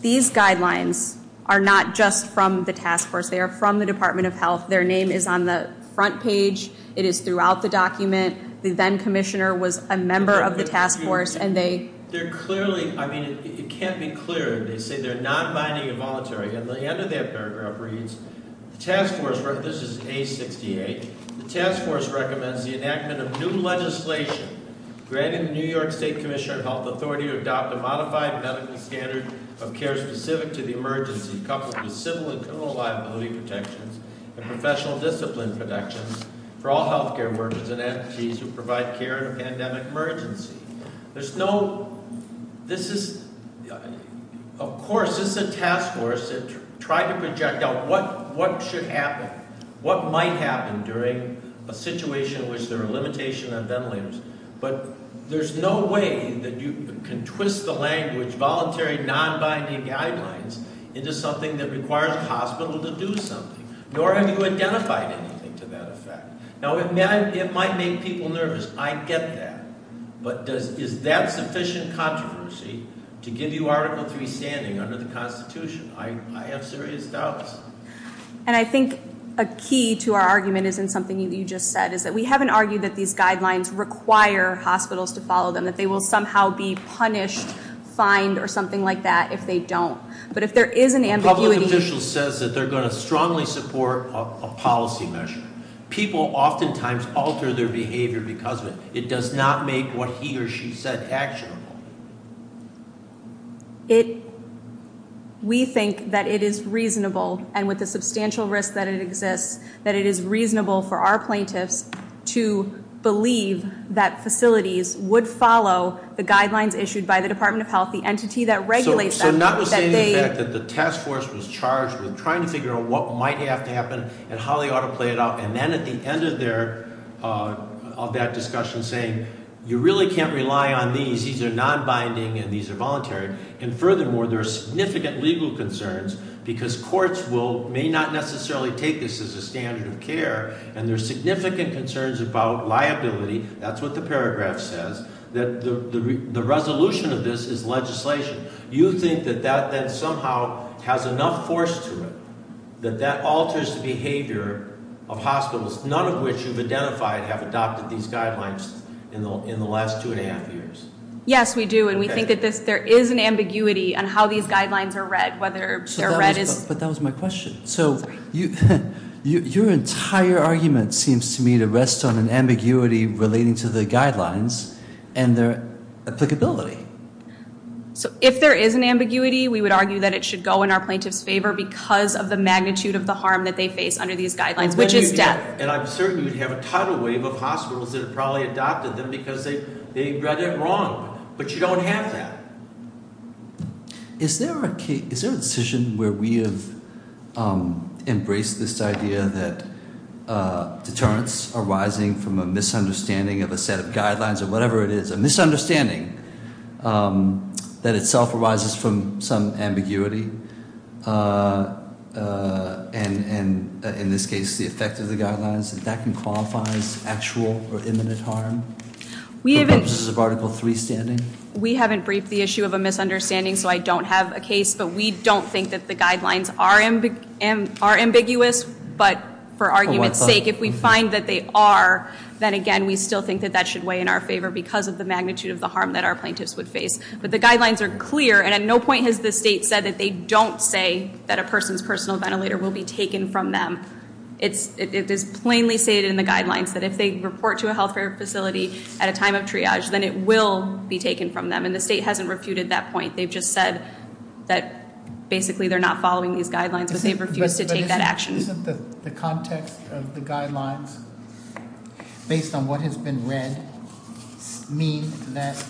These guidelines are not just from the task force. They are from the Department of Health. Their name is on the front page. It is throughout the document. The then commissioner was a member of the task force, and they- They're clearly, I mean, it can't be clearer. They say they're non-binding and voluntary. At the end of that paragraph reads, the task force, this is A68, the task force recommends the enactment of new legislation granting the New York State Commissioner of Health authority to adopt a modified medical standard of care specific to the emergency coupled with civil and criminal liability protections and professional discipline protections for all health care workers and entities who provide care in a pandemic emergency. There's no-this is-of course, this is a task force that tried to project out what should happen, what might happen during a situation in which there are limitations on ventilators. But there's no way that you can twist the language, voluntary non-binding guidelines into something that requires a hospital to do something, nor have you identified anything to that effect. Now, it might make people nervous. I get that. But is that sufficient controversy to give you Article III standing under the Constitution? I have serious doubts. And I think a key to our argument is in something you just said, is that we haven't argued that these guidelines require hospitals to follow them, that they will somehow be punished, fined, or something like that if they don't. But if there is an ambiguity- A public official says that they're going to strongly support a policy measure. People oftentimes alter their behavior because of it. It does not make what he or she said actionable. We think that it is reasonable, and with the substantial risk that it exists, that it is reasonable for our plaintiffs to believe that facilities would follow the guidelines issued by the Department of Health, the entity that regulates them. So notwithstanding the fact that the task force was charged with trying to figure out what might have to happen and how they ought to play it out, and then at the end of that discussion saying you really can't rely on these, these are non-binding and these are voluntary. And furthermore, there are significant legal concerns because courts may not necessarily take this as a standard of care, and there are significant concerns about liability. That's what the paragraph says. The resolution of this is legislation. You think that that then somehow has enough force to it, that that alters the behavior of hospitals, none of which you've identified have adopted these guidelines in the last two and a half years? Yes, we do, and we think that there is an ambiguity on how these guidelines are read, whether they're read as- But that was my question. Sorry. So your entire argument seems to me to rest on an ambiguity relating to the guidelines and their applicability. So if there is an ambiguity, we would argue that it should go in our plaintiff's favor because of the magnitude of the harm that they face under these guidelines, which is death. And I'm certain you'd have a tidal wave of hospitals that have probably adopted them because they read it wrong, but you don't have that. Is there a decision where we have embraced this idea that deterrence arising from a misunderstanding of a set of guidelines or whatever it is, a misunderstanding that itself arises from some ambiguity, and in this case the effect of the guidelines, that that can qualify as actual or imminent harm? We haven't- For purposes of Article III standing? We haven't briefed the issue of a misunderstanding, so I don't have a case, but we don't think that the guidelines are ambiguous, but for argument's sake, if we find that they are, then, again, we still think that that should weigh in our favor because of the magnitude of the harm that our plaintiffs would face. But the guidelines are clear, and at no point has the state said that they don't say that a person's personal ventilator will be taken from them. It is plainly stated in the guidelines that if they report to a health care facility at a time of triage, then it will be taken from them, and the state hasn't refuted that point. They've just said that basically they're not following these guidelines, but they've refused to take that action. But isn't the context of the guidelines, based on what has been read, mean that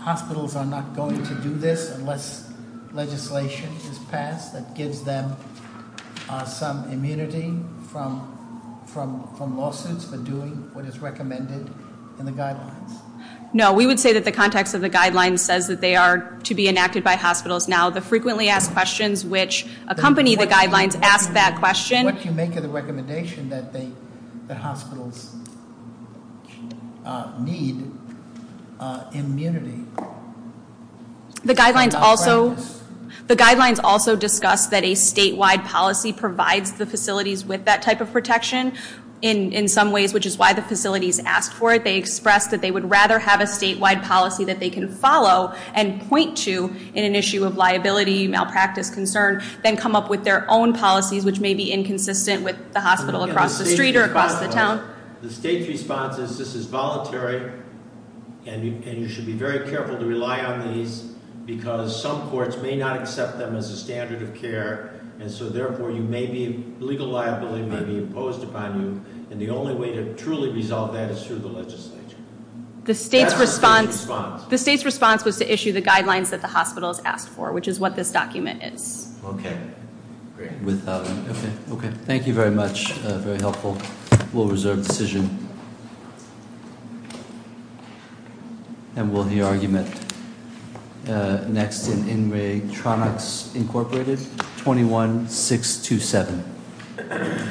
hospitals are not going to do this unless legislation is passed that gives them some immunity from lawsuits for doing what is recommended in the guidelines? No, we would say that the context of the guidelines says that they are to be enacted by hospitals. Now, the frequently asked questions, which accompany the guidelines, ask that question. What do you make of the recommendation that hospitals need immunity? The guidelines also discuss that a statewide policy provides the facilities with that type of protection in some ways, which is why the facilities asked for it. They expressed that they would rather have a statewide policy that they can follow and point to in an issue of liability, malpractice, concern, than come up with their own policies, which may be inconsistent with the hospital across the street or across the town. The state's response is this is voluntary, and you should be very careful to rely on these, because some courts may not accept them as a standard of care. And so, therefore, legal liability may be imposed upon you. And the only way to truly resolve that is through the legislature. That's the state's response. The state's response was to issue the guidelines that the hospitals asked for, which is what this document is. Okay. Great. Okay. Thank you very much. Very helpful. We'll reserve the decision. And we'll hear argument next in INRIG Tronics Incorporated, 21-627. Thank you.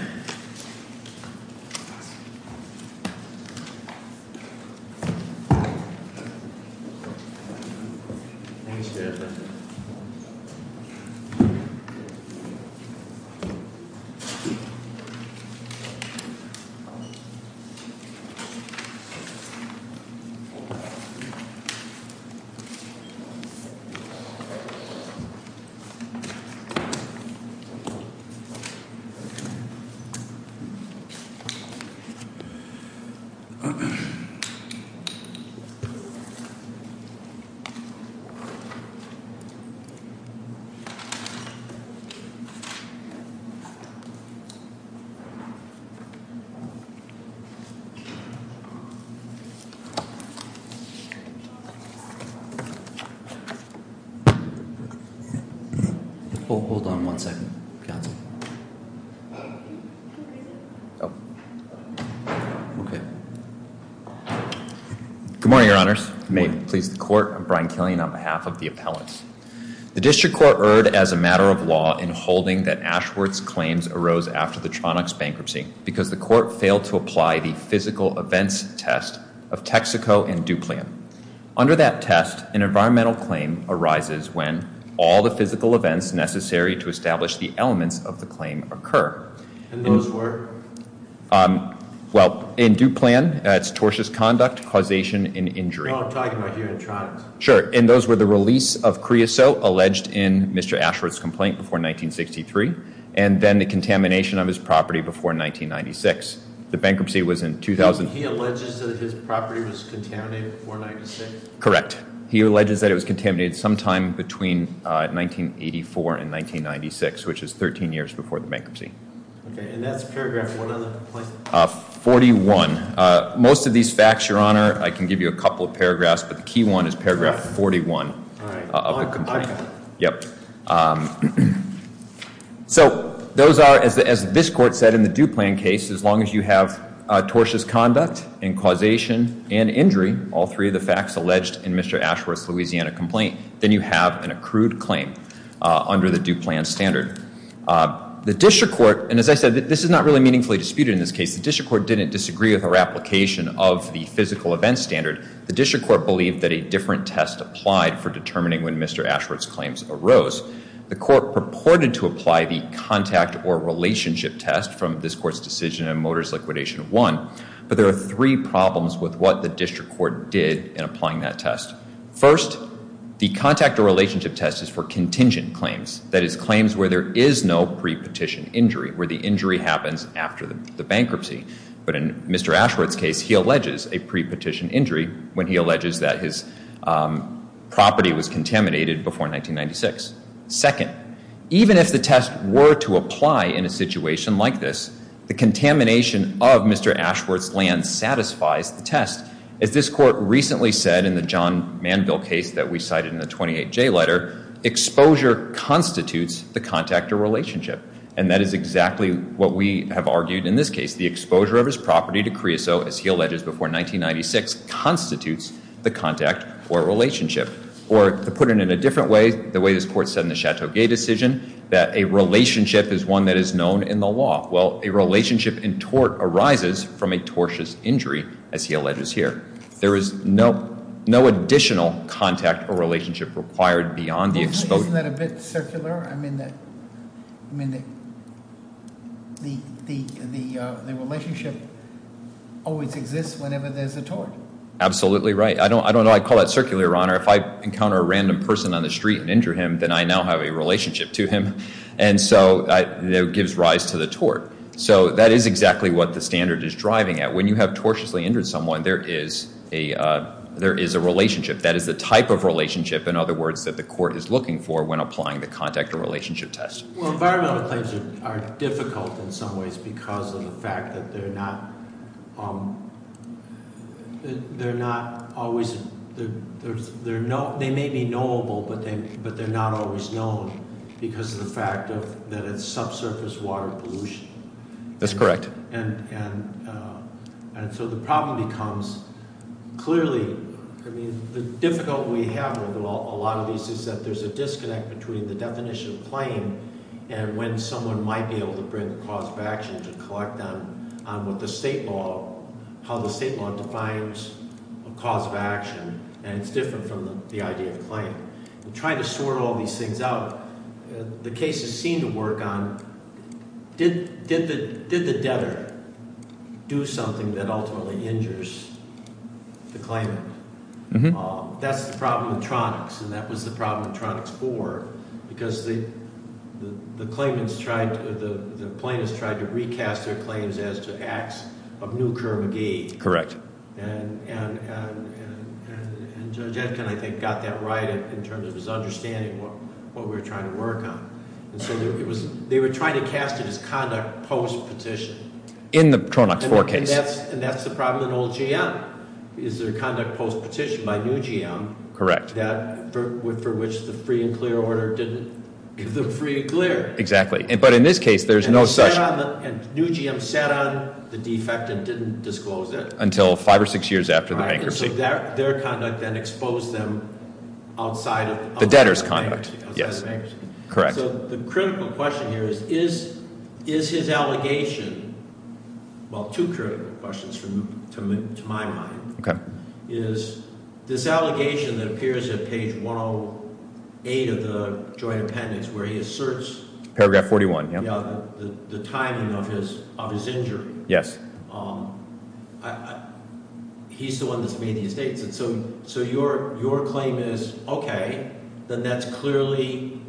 Hold on one second. Good morning, Your Honors. May it please the Court. I'm Brian Killian on behalf of the appellants. The district court erred as a matter of law in holding that Ashworth's claims arose after the Tronics bankruptcy because the court failed to apply the physical events test of Texaco and Duplian. Under that test, an environmental claim arises when all the physical events necessary to establish the elements of the claim occur. And those were? Well, in Duplian, it's tortious conduct, causation, and injury. Well, I'm talking about here in Tronics. Sure. And those were the release of Creosote alleged in Mr. Ashworth's complaint before 1963, and then the contamination of his property before 1996. The bankruptcy was in 2000. He alleges that his property was contaminated before 1996? Correct. He alleges that it was contaminated sometime between 1984 and 1996, which is 13 years before the bankruptcy. Okay. And that's paragraph one of the complaint? 41. Most of these facts, Your Honor, I can give you a couple of paragraphs, but the key one is paragraph 41 of the complaint. All right. I got it. Yep. So those are, as this court said in the Duplian case, as long as you have tortious conduct and causation and injury, all three of the facts alleged in Mr. Ashworth's Louisiana complaint, then you have an accrued claim under the Duplian standard. The district court, and as I said, this is not really meaningfully disputed in this case. The district court didn't disagree with our application of the physical events standard. The district court believed that a different test applied for determining when Mr. Ashworth's claims arose. The court purported to apply the contact or relationship test from this court's decision in Motors Liquidation I, but there are three problems with what the district court did in applying that test. First, the contact or relationship test is for contingent claims, that is, claims where there is no pre-petition injury, where the injury happens after the bankruptcy. But in Mr. Ashworth's case, he alleges a pre-petition injury when he alleges that his property was contaminated before 1996. Second, even if the test were to apply in a situation like this, the contamination of Mr. Ashworth's land satisfies the test. As this court recently said in the John Manville case that we cited in the 28J letter, exposure constitutes the contact or relationship, and that is exactly what we have argued in this case. The exposure of his property to creosote, as he alleges, before 1996 constitutes the contact or relationship. Or to put it in a different way, the way this court said in the Chateau Gay decision, that a relationship is one that is known in the law. Well, a relationship in tort arises from a tortious injury, as he alleges here. There is no additional contact or relationship required beyond the exposure. Isn't that a bit circular? I mean, the relationship always exists whenever there's a tort. Absolutely right. I don't know. I call that circular, Your Honor. If I encounter a random person on the street and injure him, then I now have a relationship to him. And so it gives rise to the tort. So that is exactly what the standard is driving at. When you have tortiously injured someone, there is a relationship. That is the type of relationship, in other words, that the court is looking for when applying the contact or relationship test. Well, environmental claims are difficult in some ways because of the fact that they're not always they may be knowable, but they're not always known because of the fact that it's subsurface water pollution. That's correct. And so the problem becomes clearly, I mean, the difficulty we have with a lot of these is that there's a disconnect between the definition of claim and when someone might be able to bring a cause of action to collect on what the state law, how the state law defines a cause of action, and it's different from the idea of claim. In trying to sort all these things out, the cases seem to work on, did the debtor do something that ultimately injures the claimant? That's the problem with Tronics, and that was the problem with Tronics 4 because the claimants tried to, the plaintiffs tried to recast their claims as to acts of new curve of gain. Correct. And Judge Etkin, I think, got that right in terms of his understanding of what we were trying to work on. And so they were trying to cast it as conduct post-petition. In the Tronics 4 case. And that's the problem in old GM, is their conduct post-petition by new GM. Correct. For which the free and clear order didn't give them free and clear. Exactly, but in this case, there's no such. And new GM sat on the defect and didn't disclose it. Until five or six years after the bankruptcy. So their conduct then exposed them outside of- The debtor's conduct, yes. Correct. So the critical question here is, is his allegation, well, two critical questions to my mind. Okay. Is this allegation that appears at page 108 of the joint appendix where he asserts- Paragraph 41, yeah. The timing of his injury. Yes. He's the one that's made these dates. So your claim is, okay, then that's clearly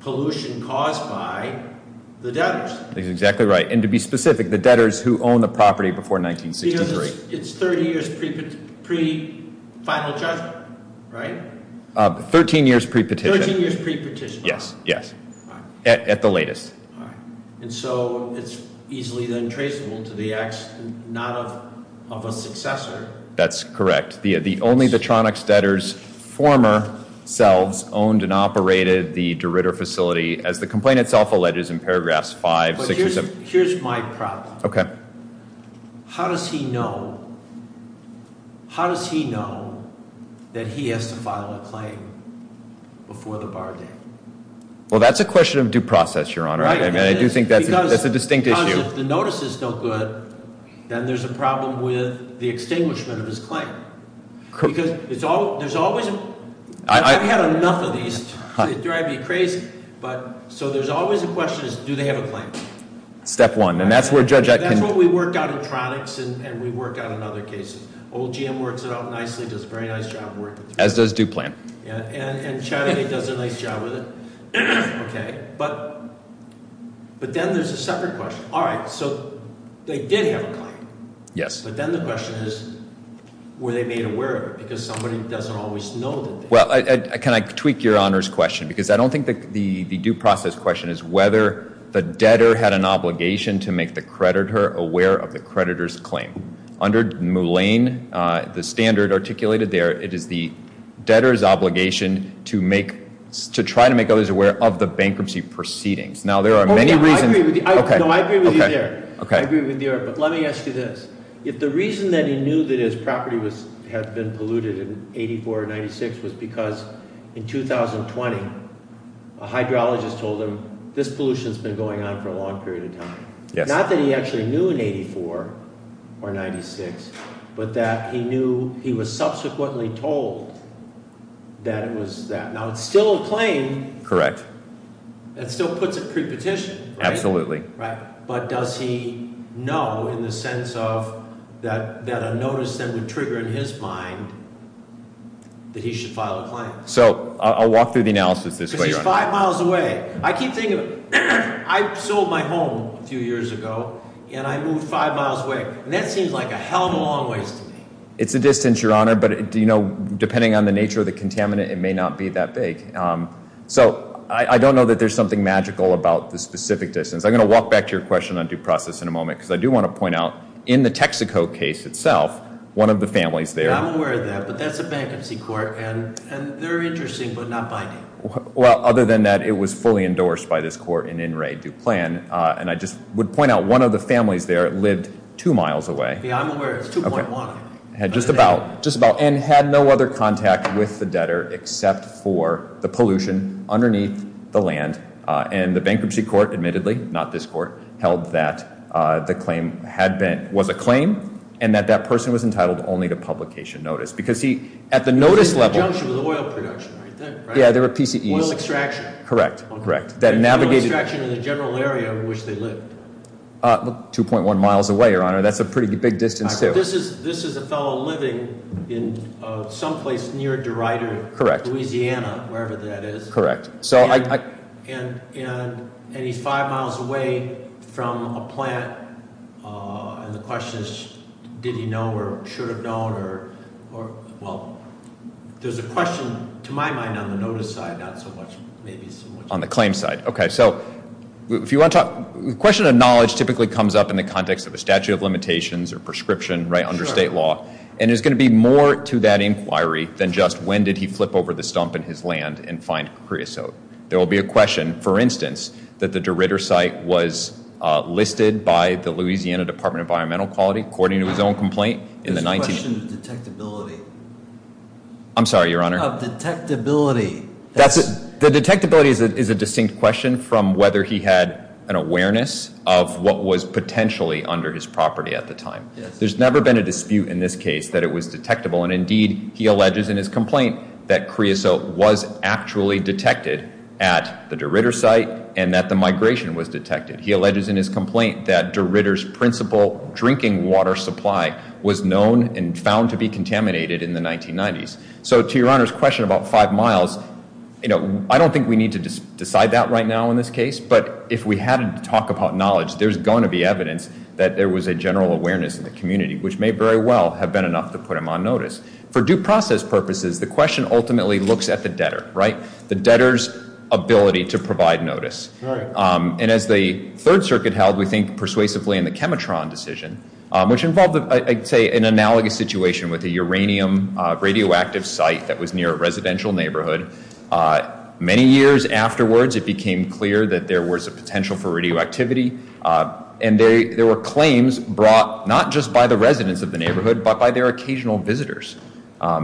pollution caused by the debtors. He's exactly right. And to be specific, the debtors who own the property before 1963. Because it's 30 years pre-final judgment, right? 13 years pre-petition. 13 years pre-petition. Yes, yes. At the latest. All right. And so it's easily then traceable to the accident, not of a successor. That's correct. Only the Tronics debtors, former selves, owned and operated the de Ritter facility. As the complaint itself alleges in paragraphs 5, 6, or 7. But here's my problem. Okay. How does he know, how does he know that he has to file a claim before the bar date? Well, that's a question of due process, Your Honor. I do think that's a distinct issue. Because if the notice is no good, then there's a problem with the extinguishment of his claim. Because there's always, I've had enough of these. They drive me crazy. So there's always a question of do they have a claim? Step one. That's what we work out in Tronics and we work out in other cases. Old GM works it out nicely, does a very nice job of working through it. As does Due Plan. And Chattagay does a nice job with it. Okay. But then there's a separate question. All right. So they did have a claim. Yes. But then the question is were they made aware of it? Because somebody doesn't always know. Well, can I tweak Your Honor's question? Because I don't think the due process question is whether the debtor had an obligation to make the creditor aware of the creditor's claim. Under Mullane, the standard articulated there, it is the debtor's obligation to try to make others aware of the bankruptcy proceedings. Now, there are many reasons. No, I agree with you there. I agree with you there. But let me ask you this. If the reason that he knew that his property had been polluted in 84 or 96 was because in 2020, a hydrologist told him this pollution has been going on for a long period of time. Not that he actually knew in 84 or 96, but that he knew he was subsequently told that it was that. Now, it's still a claim. Correct. That still puts it pre-petition. Absolutely. Right. But does he know in the sense of that a notice then would trigger in his mind that he should file a claim? So I'll walk through the analysis this way, Your Honor. Because he's five miles away. I keep thinking of it. I sold my home a few years ago, and I moved five miles away. And that seems like a hell of a long ways to me. It's a distance, Your Honor. But depending on the nature of the contaminant, it may not be that big. So I don't know that there's something magical about the specific distance. I'm going to walk back to your question on due process in a moment because I do want to point out in the Texaco case itself, one of the families there. I'm aware of that. But that's a bankruptcy court, and they're interesting but not binding. Well, other than that, it was fully endorsed by this court in in re due plan. And I just would point out one of the families there lived two miles away. Yeah, I'm aware. It's 2.1. Just about. And had no other contact with the debtor except for the pollution underneath the land. And the bankruptcy court, admittedly, not this court, held that the claim was a claim and that that person was entitled only to publication notice. Because he, at the notice level. The junction was oil production, I think, right? Yeah, they were PCEs. Oil extraction. Correct, correct. That navigated. Oil extraction in the general area in which they lived. 2.1 miles away, Your Honor. That's a pretty big distance, too. This is a fellow living in someplace near DeRider. Correct. Louisiana, wherever that is. Correct. And he's five miles away from a plant. And the question is, did he know or should have known? Or, well, there's a question, to my mind, on the notice side, not so much, maybe. On the claim side. Okay, so if you want to talk. The question of knowledge typically comes up in the context of a statute of limitations or prescription, right, under state law. And there's going to be more to that inquiry than just when did he flip over the stump in his land and find creosote. There will be a question, for instance, that the DeRider site was listed by the Louisiana Department of Environmental Quality, according to his own complaint. There's a question of detectability. I'm sorry, Your Honor. Of detectability. The detectability is a distinct question from whether he had an awareness of what was potentially under his property at the time. There's never been a dispute in this case that it was detectable. And, indeed, he alleges in his complaint that creosote was actually detected at the DeRider site and that the migration was detected. He alleges in his complaint that DeRider's principal drinking water supply was known and found to be contaminated in the 1990s. So to Your Honor's question about five miles, you know, I don't think we need to decide that right now in this case. But if we had to talk about knowledge, there's going to be evidence that there was a general awareness in the community, which may very well have been enough to put him on notice. For due process purposes, the question ultimately looks at the debtor, right? The debtor's ability to provide notice. And as the Third Circuit held, we think persuasively in the Chemitron decision, which involved, I'd say, an analogous situation with a uranium radioactive site that was near a residential neighborhood. Many years afterwards, it became clear that there was a potential for radioactivity. And there were claims brought not just by the residents of the neighborhood, but by their occasional visitors.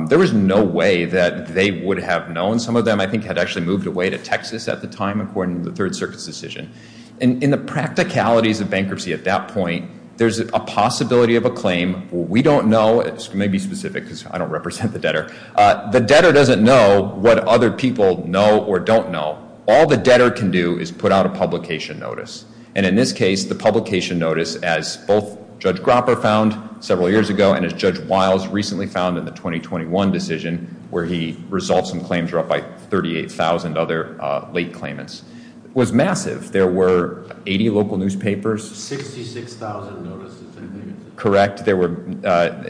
There was no way that they would have known. Some of them, I think, had actually moved away to Texas at the time, according to the Third Circuit's decision. And in the practicalities of bankruptcy at that point, there's a possibility of a claim. We don't know. It may be specific because I don't represent the debtor. The debtor doesn't know what other people know or don't know. All the debtor can do is put out a publication notice. And in this case, the publication notice, as both Judge Gropper found several years ago and as Judge Wiles recently found in the 2021 decision, where he resolved some claims brought by 38,000 other late claimants, was massive. There were 80 local newspapers. 66,000 notices, I think. Correct. There were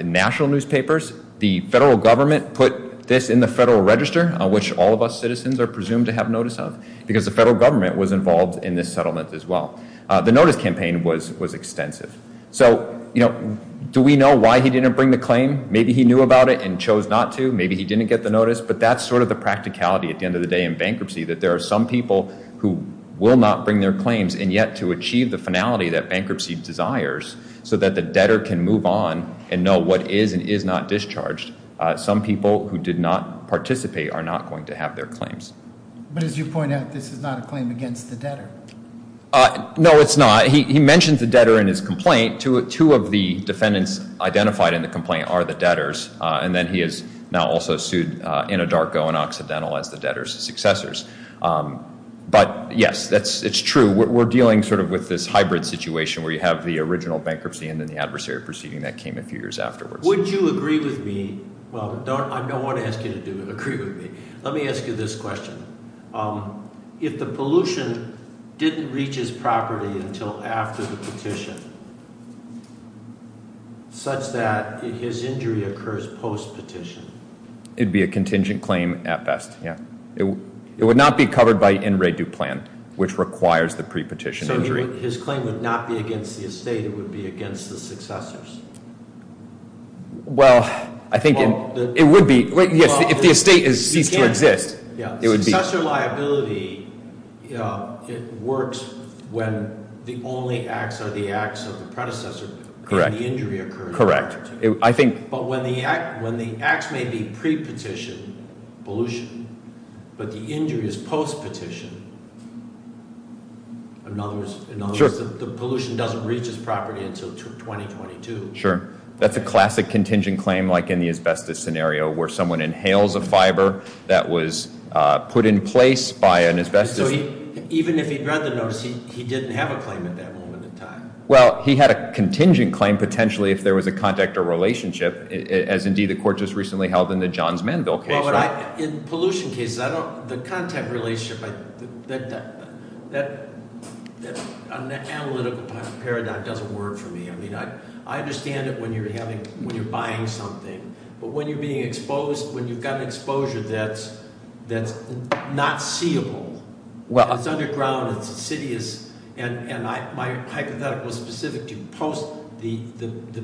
national newspapers. The federal government put this in the Federal Register, which all of us citizens are presumed to have notice of, because the federal government was involved in this settlement as well. The notice campaign was extensive. So, you know, do we know why he didn't bring the claim? Maybe he knew about it and chose not to. Maybe he didn't get the notice. But that's sort of the practicality at the end of the day in bankruptcy, that there are some people who will not bring their claims and yet to achieve the finality that bankruptcy desires so that the debtor can move on and know what is and is not discharged, some people who did not participate are not going to have their claims. But as you point out, this is not a claim against the debtor. No, it's not. He mentions the debtor in his complaint. Two of the defendants identified in the complaint are the debtors. And then he is now also sued in a darko and occidental as the debtor's successors. But, yes, it's true. So we're dealing sort of with this hybrid situation where you have the original bankruptcy and then the adversary proceeding that came a few years afterwards. Would you agree with me? Well, I don't want to ask you to agree with me. Let me ask you this question. If the pollution didn't reach his property until after the petition, such that his injury occurs post-petition? It would be a contingent claim at best, yeah. It would not be covered by in re du plan, which requires the pre-petition injury. So his claim would not be against the estate. It would be against the successors? Well, I think it would be. Yes, if the estate ceased to exist, it would be. Successor liability, it works when the only acts are the acts of the predecessor and the injury occurs. Correct. But when the acts may be pre-petition, pollution, but the injury is post-petition, in other words, the pollution doesn't reach his property until 2022. Sure. That's a classic contingent claim like in the asbestos scenario where someone inhales a fiber that was put in place by an asbestos. Even if he'd read the notice, he didn't have a claim at that moment in time. Well, he had a contingent claim potentially if there was a contact or relationship, as indeed the court just recently held in the Johns Manville case. In pollution cases, the contact relationship, that analytical paradigm doesn't work for me. I mean, I understand it when you're buying something, but when you've got an exposure that's not seeable, it's underground, it's insidious, and my hypothetical is specific to post. The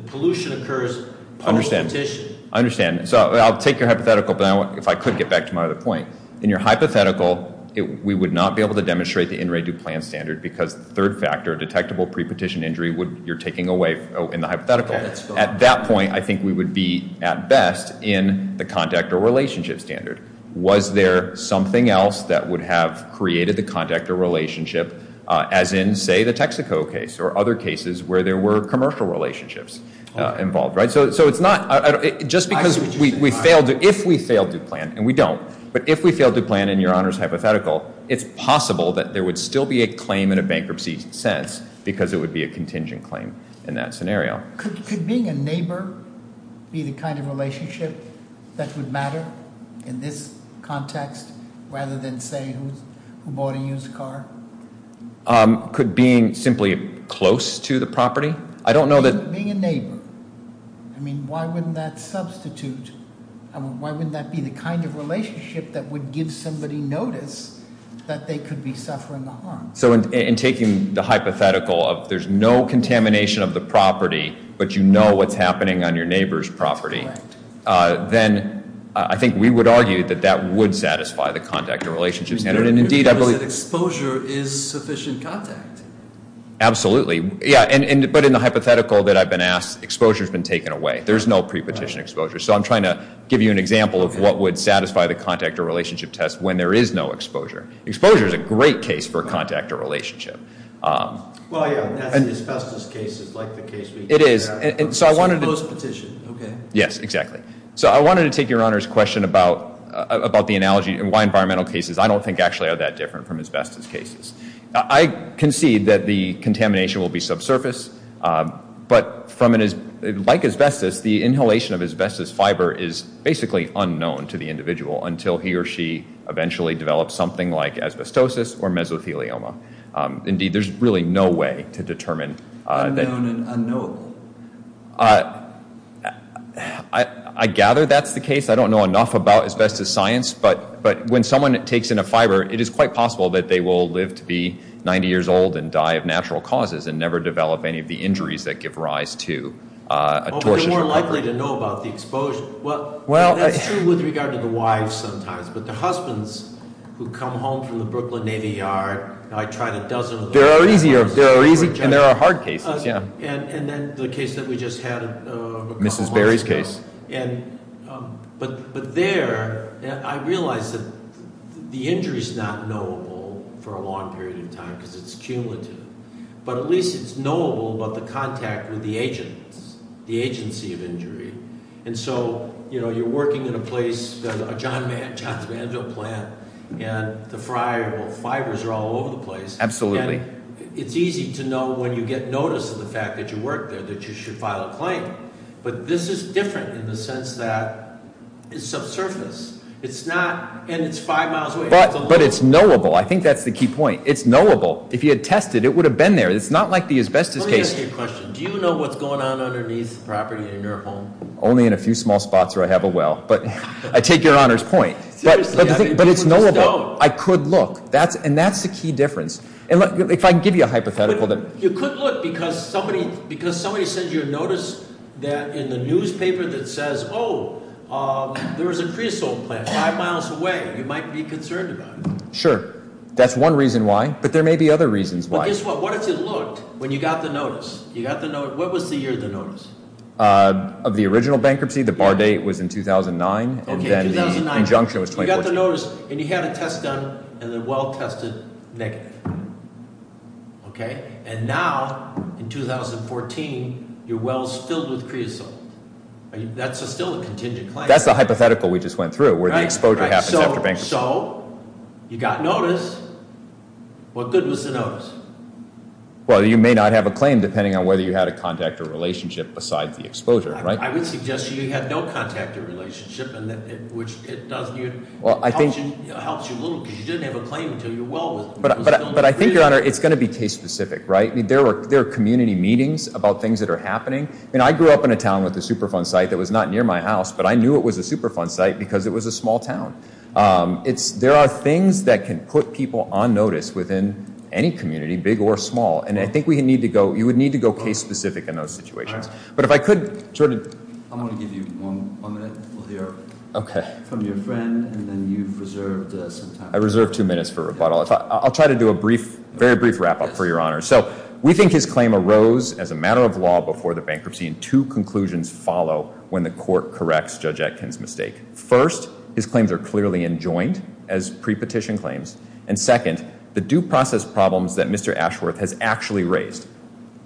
pollution occurs post-petition. I understand. So I'll take your hypothetical, but if I could get back to my other point. In your hypothetical, we would not be able to demonstrate the in re du plan standard because the third factor, detectable pre-petition injury, you're taking away in the hypothetical. At that point, I think we would be at best in the contact or relationship standard. Was there something else that would have created the contact or relationship, as in, say, the Texaco case or other cases where there were commercial relationships involved? So it's not just because we failed to plan, and we don't, but if we failed to plan in your Honor's hypothetical, it's possible that there would still be a claim in a bankruptcy sense Could being a neighbor be the kind of relationship that would matter in this context, rather than, say, who bought a used car? Could being simply close to the property? I don't know that- Being a neighbor. I mean, why wouldn't that substitute, why wouldn't that be the kind of relationship that would give somebody notice that they could be suffering the harm? So in taking the hypothetical of there's no contamination of the property, but you know what's happening on your neighbor's property, then I think we would argue that that would satisfy the contact or relationship standard, and indeed I believe- Exposure is sufficient contact. Absolutely. Yeah, but in the hypothetical that I've been asked, exposure's been taken away. There's no pre-petition exposure. So I'm trying to give you an example of what would satisfy the contact or relationship test when there is no exposure. Exposure is a great case for contact or relationship. Well, yeah, that's the asbestos case is like the case we- It is. So I wanted to- Close petition, okay. Yes, exactly. So I wanted to take Your Honor's question about the analogy and why environmental cases I don't think actually are that different from asbestos cases. I concede that the contamination will be subsurface, but like asbestos, the inhalation of asbestos fiber is basically unknown to the individual until he or she eventually develops something like asbestosis or mesothelioma. Indeed, there's really no way to determine that- Unknown and unknowable. I gather that's the case. I don't know enough about asbestos science, but when someone takes in a fiber, it is quite possible that they will live to be 90 years old and die of natural causes and never develop any of the injuries that give rise to a torsional injury. But they're more likely to know about the exposure. That's true with regard to the wives sometimes, but the husbands who come home from the Brooklyn Navy Yard, I tried a dozen of those- There are easy and there are hard cases, yeah. And then the case that we just had- Mrs. Berry's case. But there, I realize that the injury's not knowable for a long period of time because it's cumulative, but at least it's knowable about the contact with the agents, the agency of injury. And so you're working in a place, John's Mansion plant, and the fibers are all over the place. Absolutely. And it's easy to know when you get notice of the fact that you work there that you should file a claim. But this is different in the sense that it's subsurface. It's not, and it's five miles away. But it's knowable. I think that's the key point. It's knowable. If you had tested, it would have been there. It's not like the asbestos case. Let me ask you a question. Do you know what's going on underneath the property in your home? Only in a few small spots where I have a well. But I take your Honor's point. But it's knowable. You just don't. I could look. And that's the key difference. And if I can give you a hypothetical that- You could look because somebody says you noticed that in the newspaper that says, oh, there was a creosote plant five miles away. You might be concerned about it. Sure. That's one reason why. But there may be other reasons why. But guess what? So what if you looked when you got the notice? You got the notice. What was the year of the notice? Of the original bankruptcy, the bar date was in 2009. Okay, 2009. And then the injunction was 2014. You got the notice, and you had a test done, and the well tested negative. Okay? And now, in 2014, your well is filled with creosote. That's still a contingent claim. That's the hypothetical we just went through where the exposure happens after bankruptcy. So you got notice. What good was the notice? Well, you may not have a claim depending on whether you had a contact or relationship besides the exposure, right? I would suggest you had no contact or relationship, which helps you a little because you didn't have a claim until your well was filled with creosote. But I think, Your Honor, it's going to be case specific, right? There are community meetings about things that are happening. I grew up in a town with a Superfund site that was not near my house, but I knew it was a Superfund site because it was a small town. There are things that can put people on notice within any community, big or small. And I think you would need to go case specific in those situations. But if I could, Jordan. I'm going to give you one minute from your friend, and then you've reserved some time. I reserve two minutes for rebuttal. I'll try to do a very brief wrap-up for Your Honor. So we think his claim arose as a matter of law before the bankruptcy, and two conclusions follow when the court corrects Judge Atkin's mistake. First, his claims are clearly enjoined as pre-petition claims. And second, the due process problems that Mr. Ashworth has actually raised.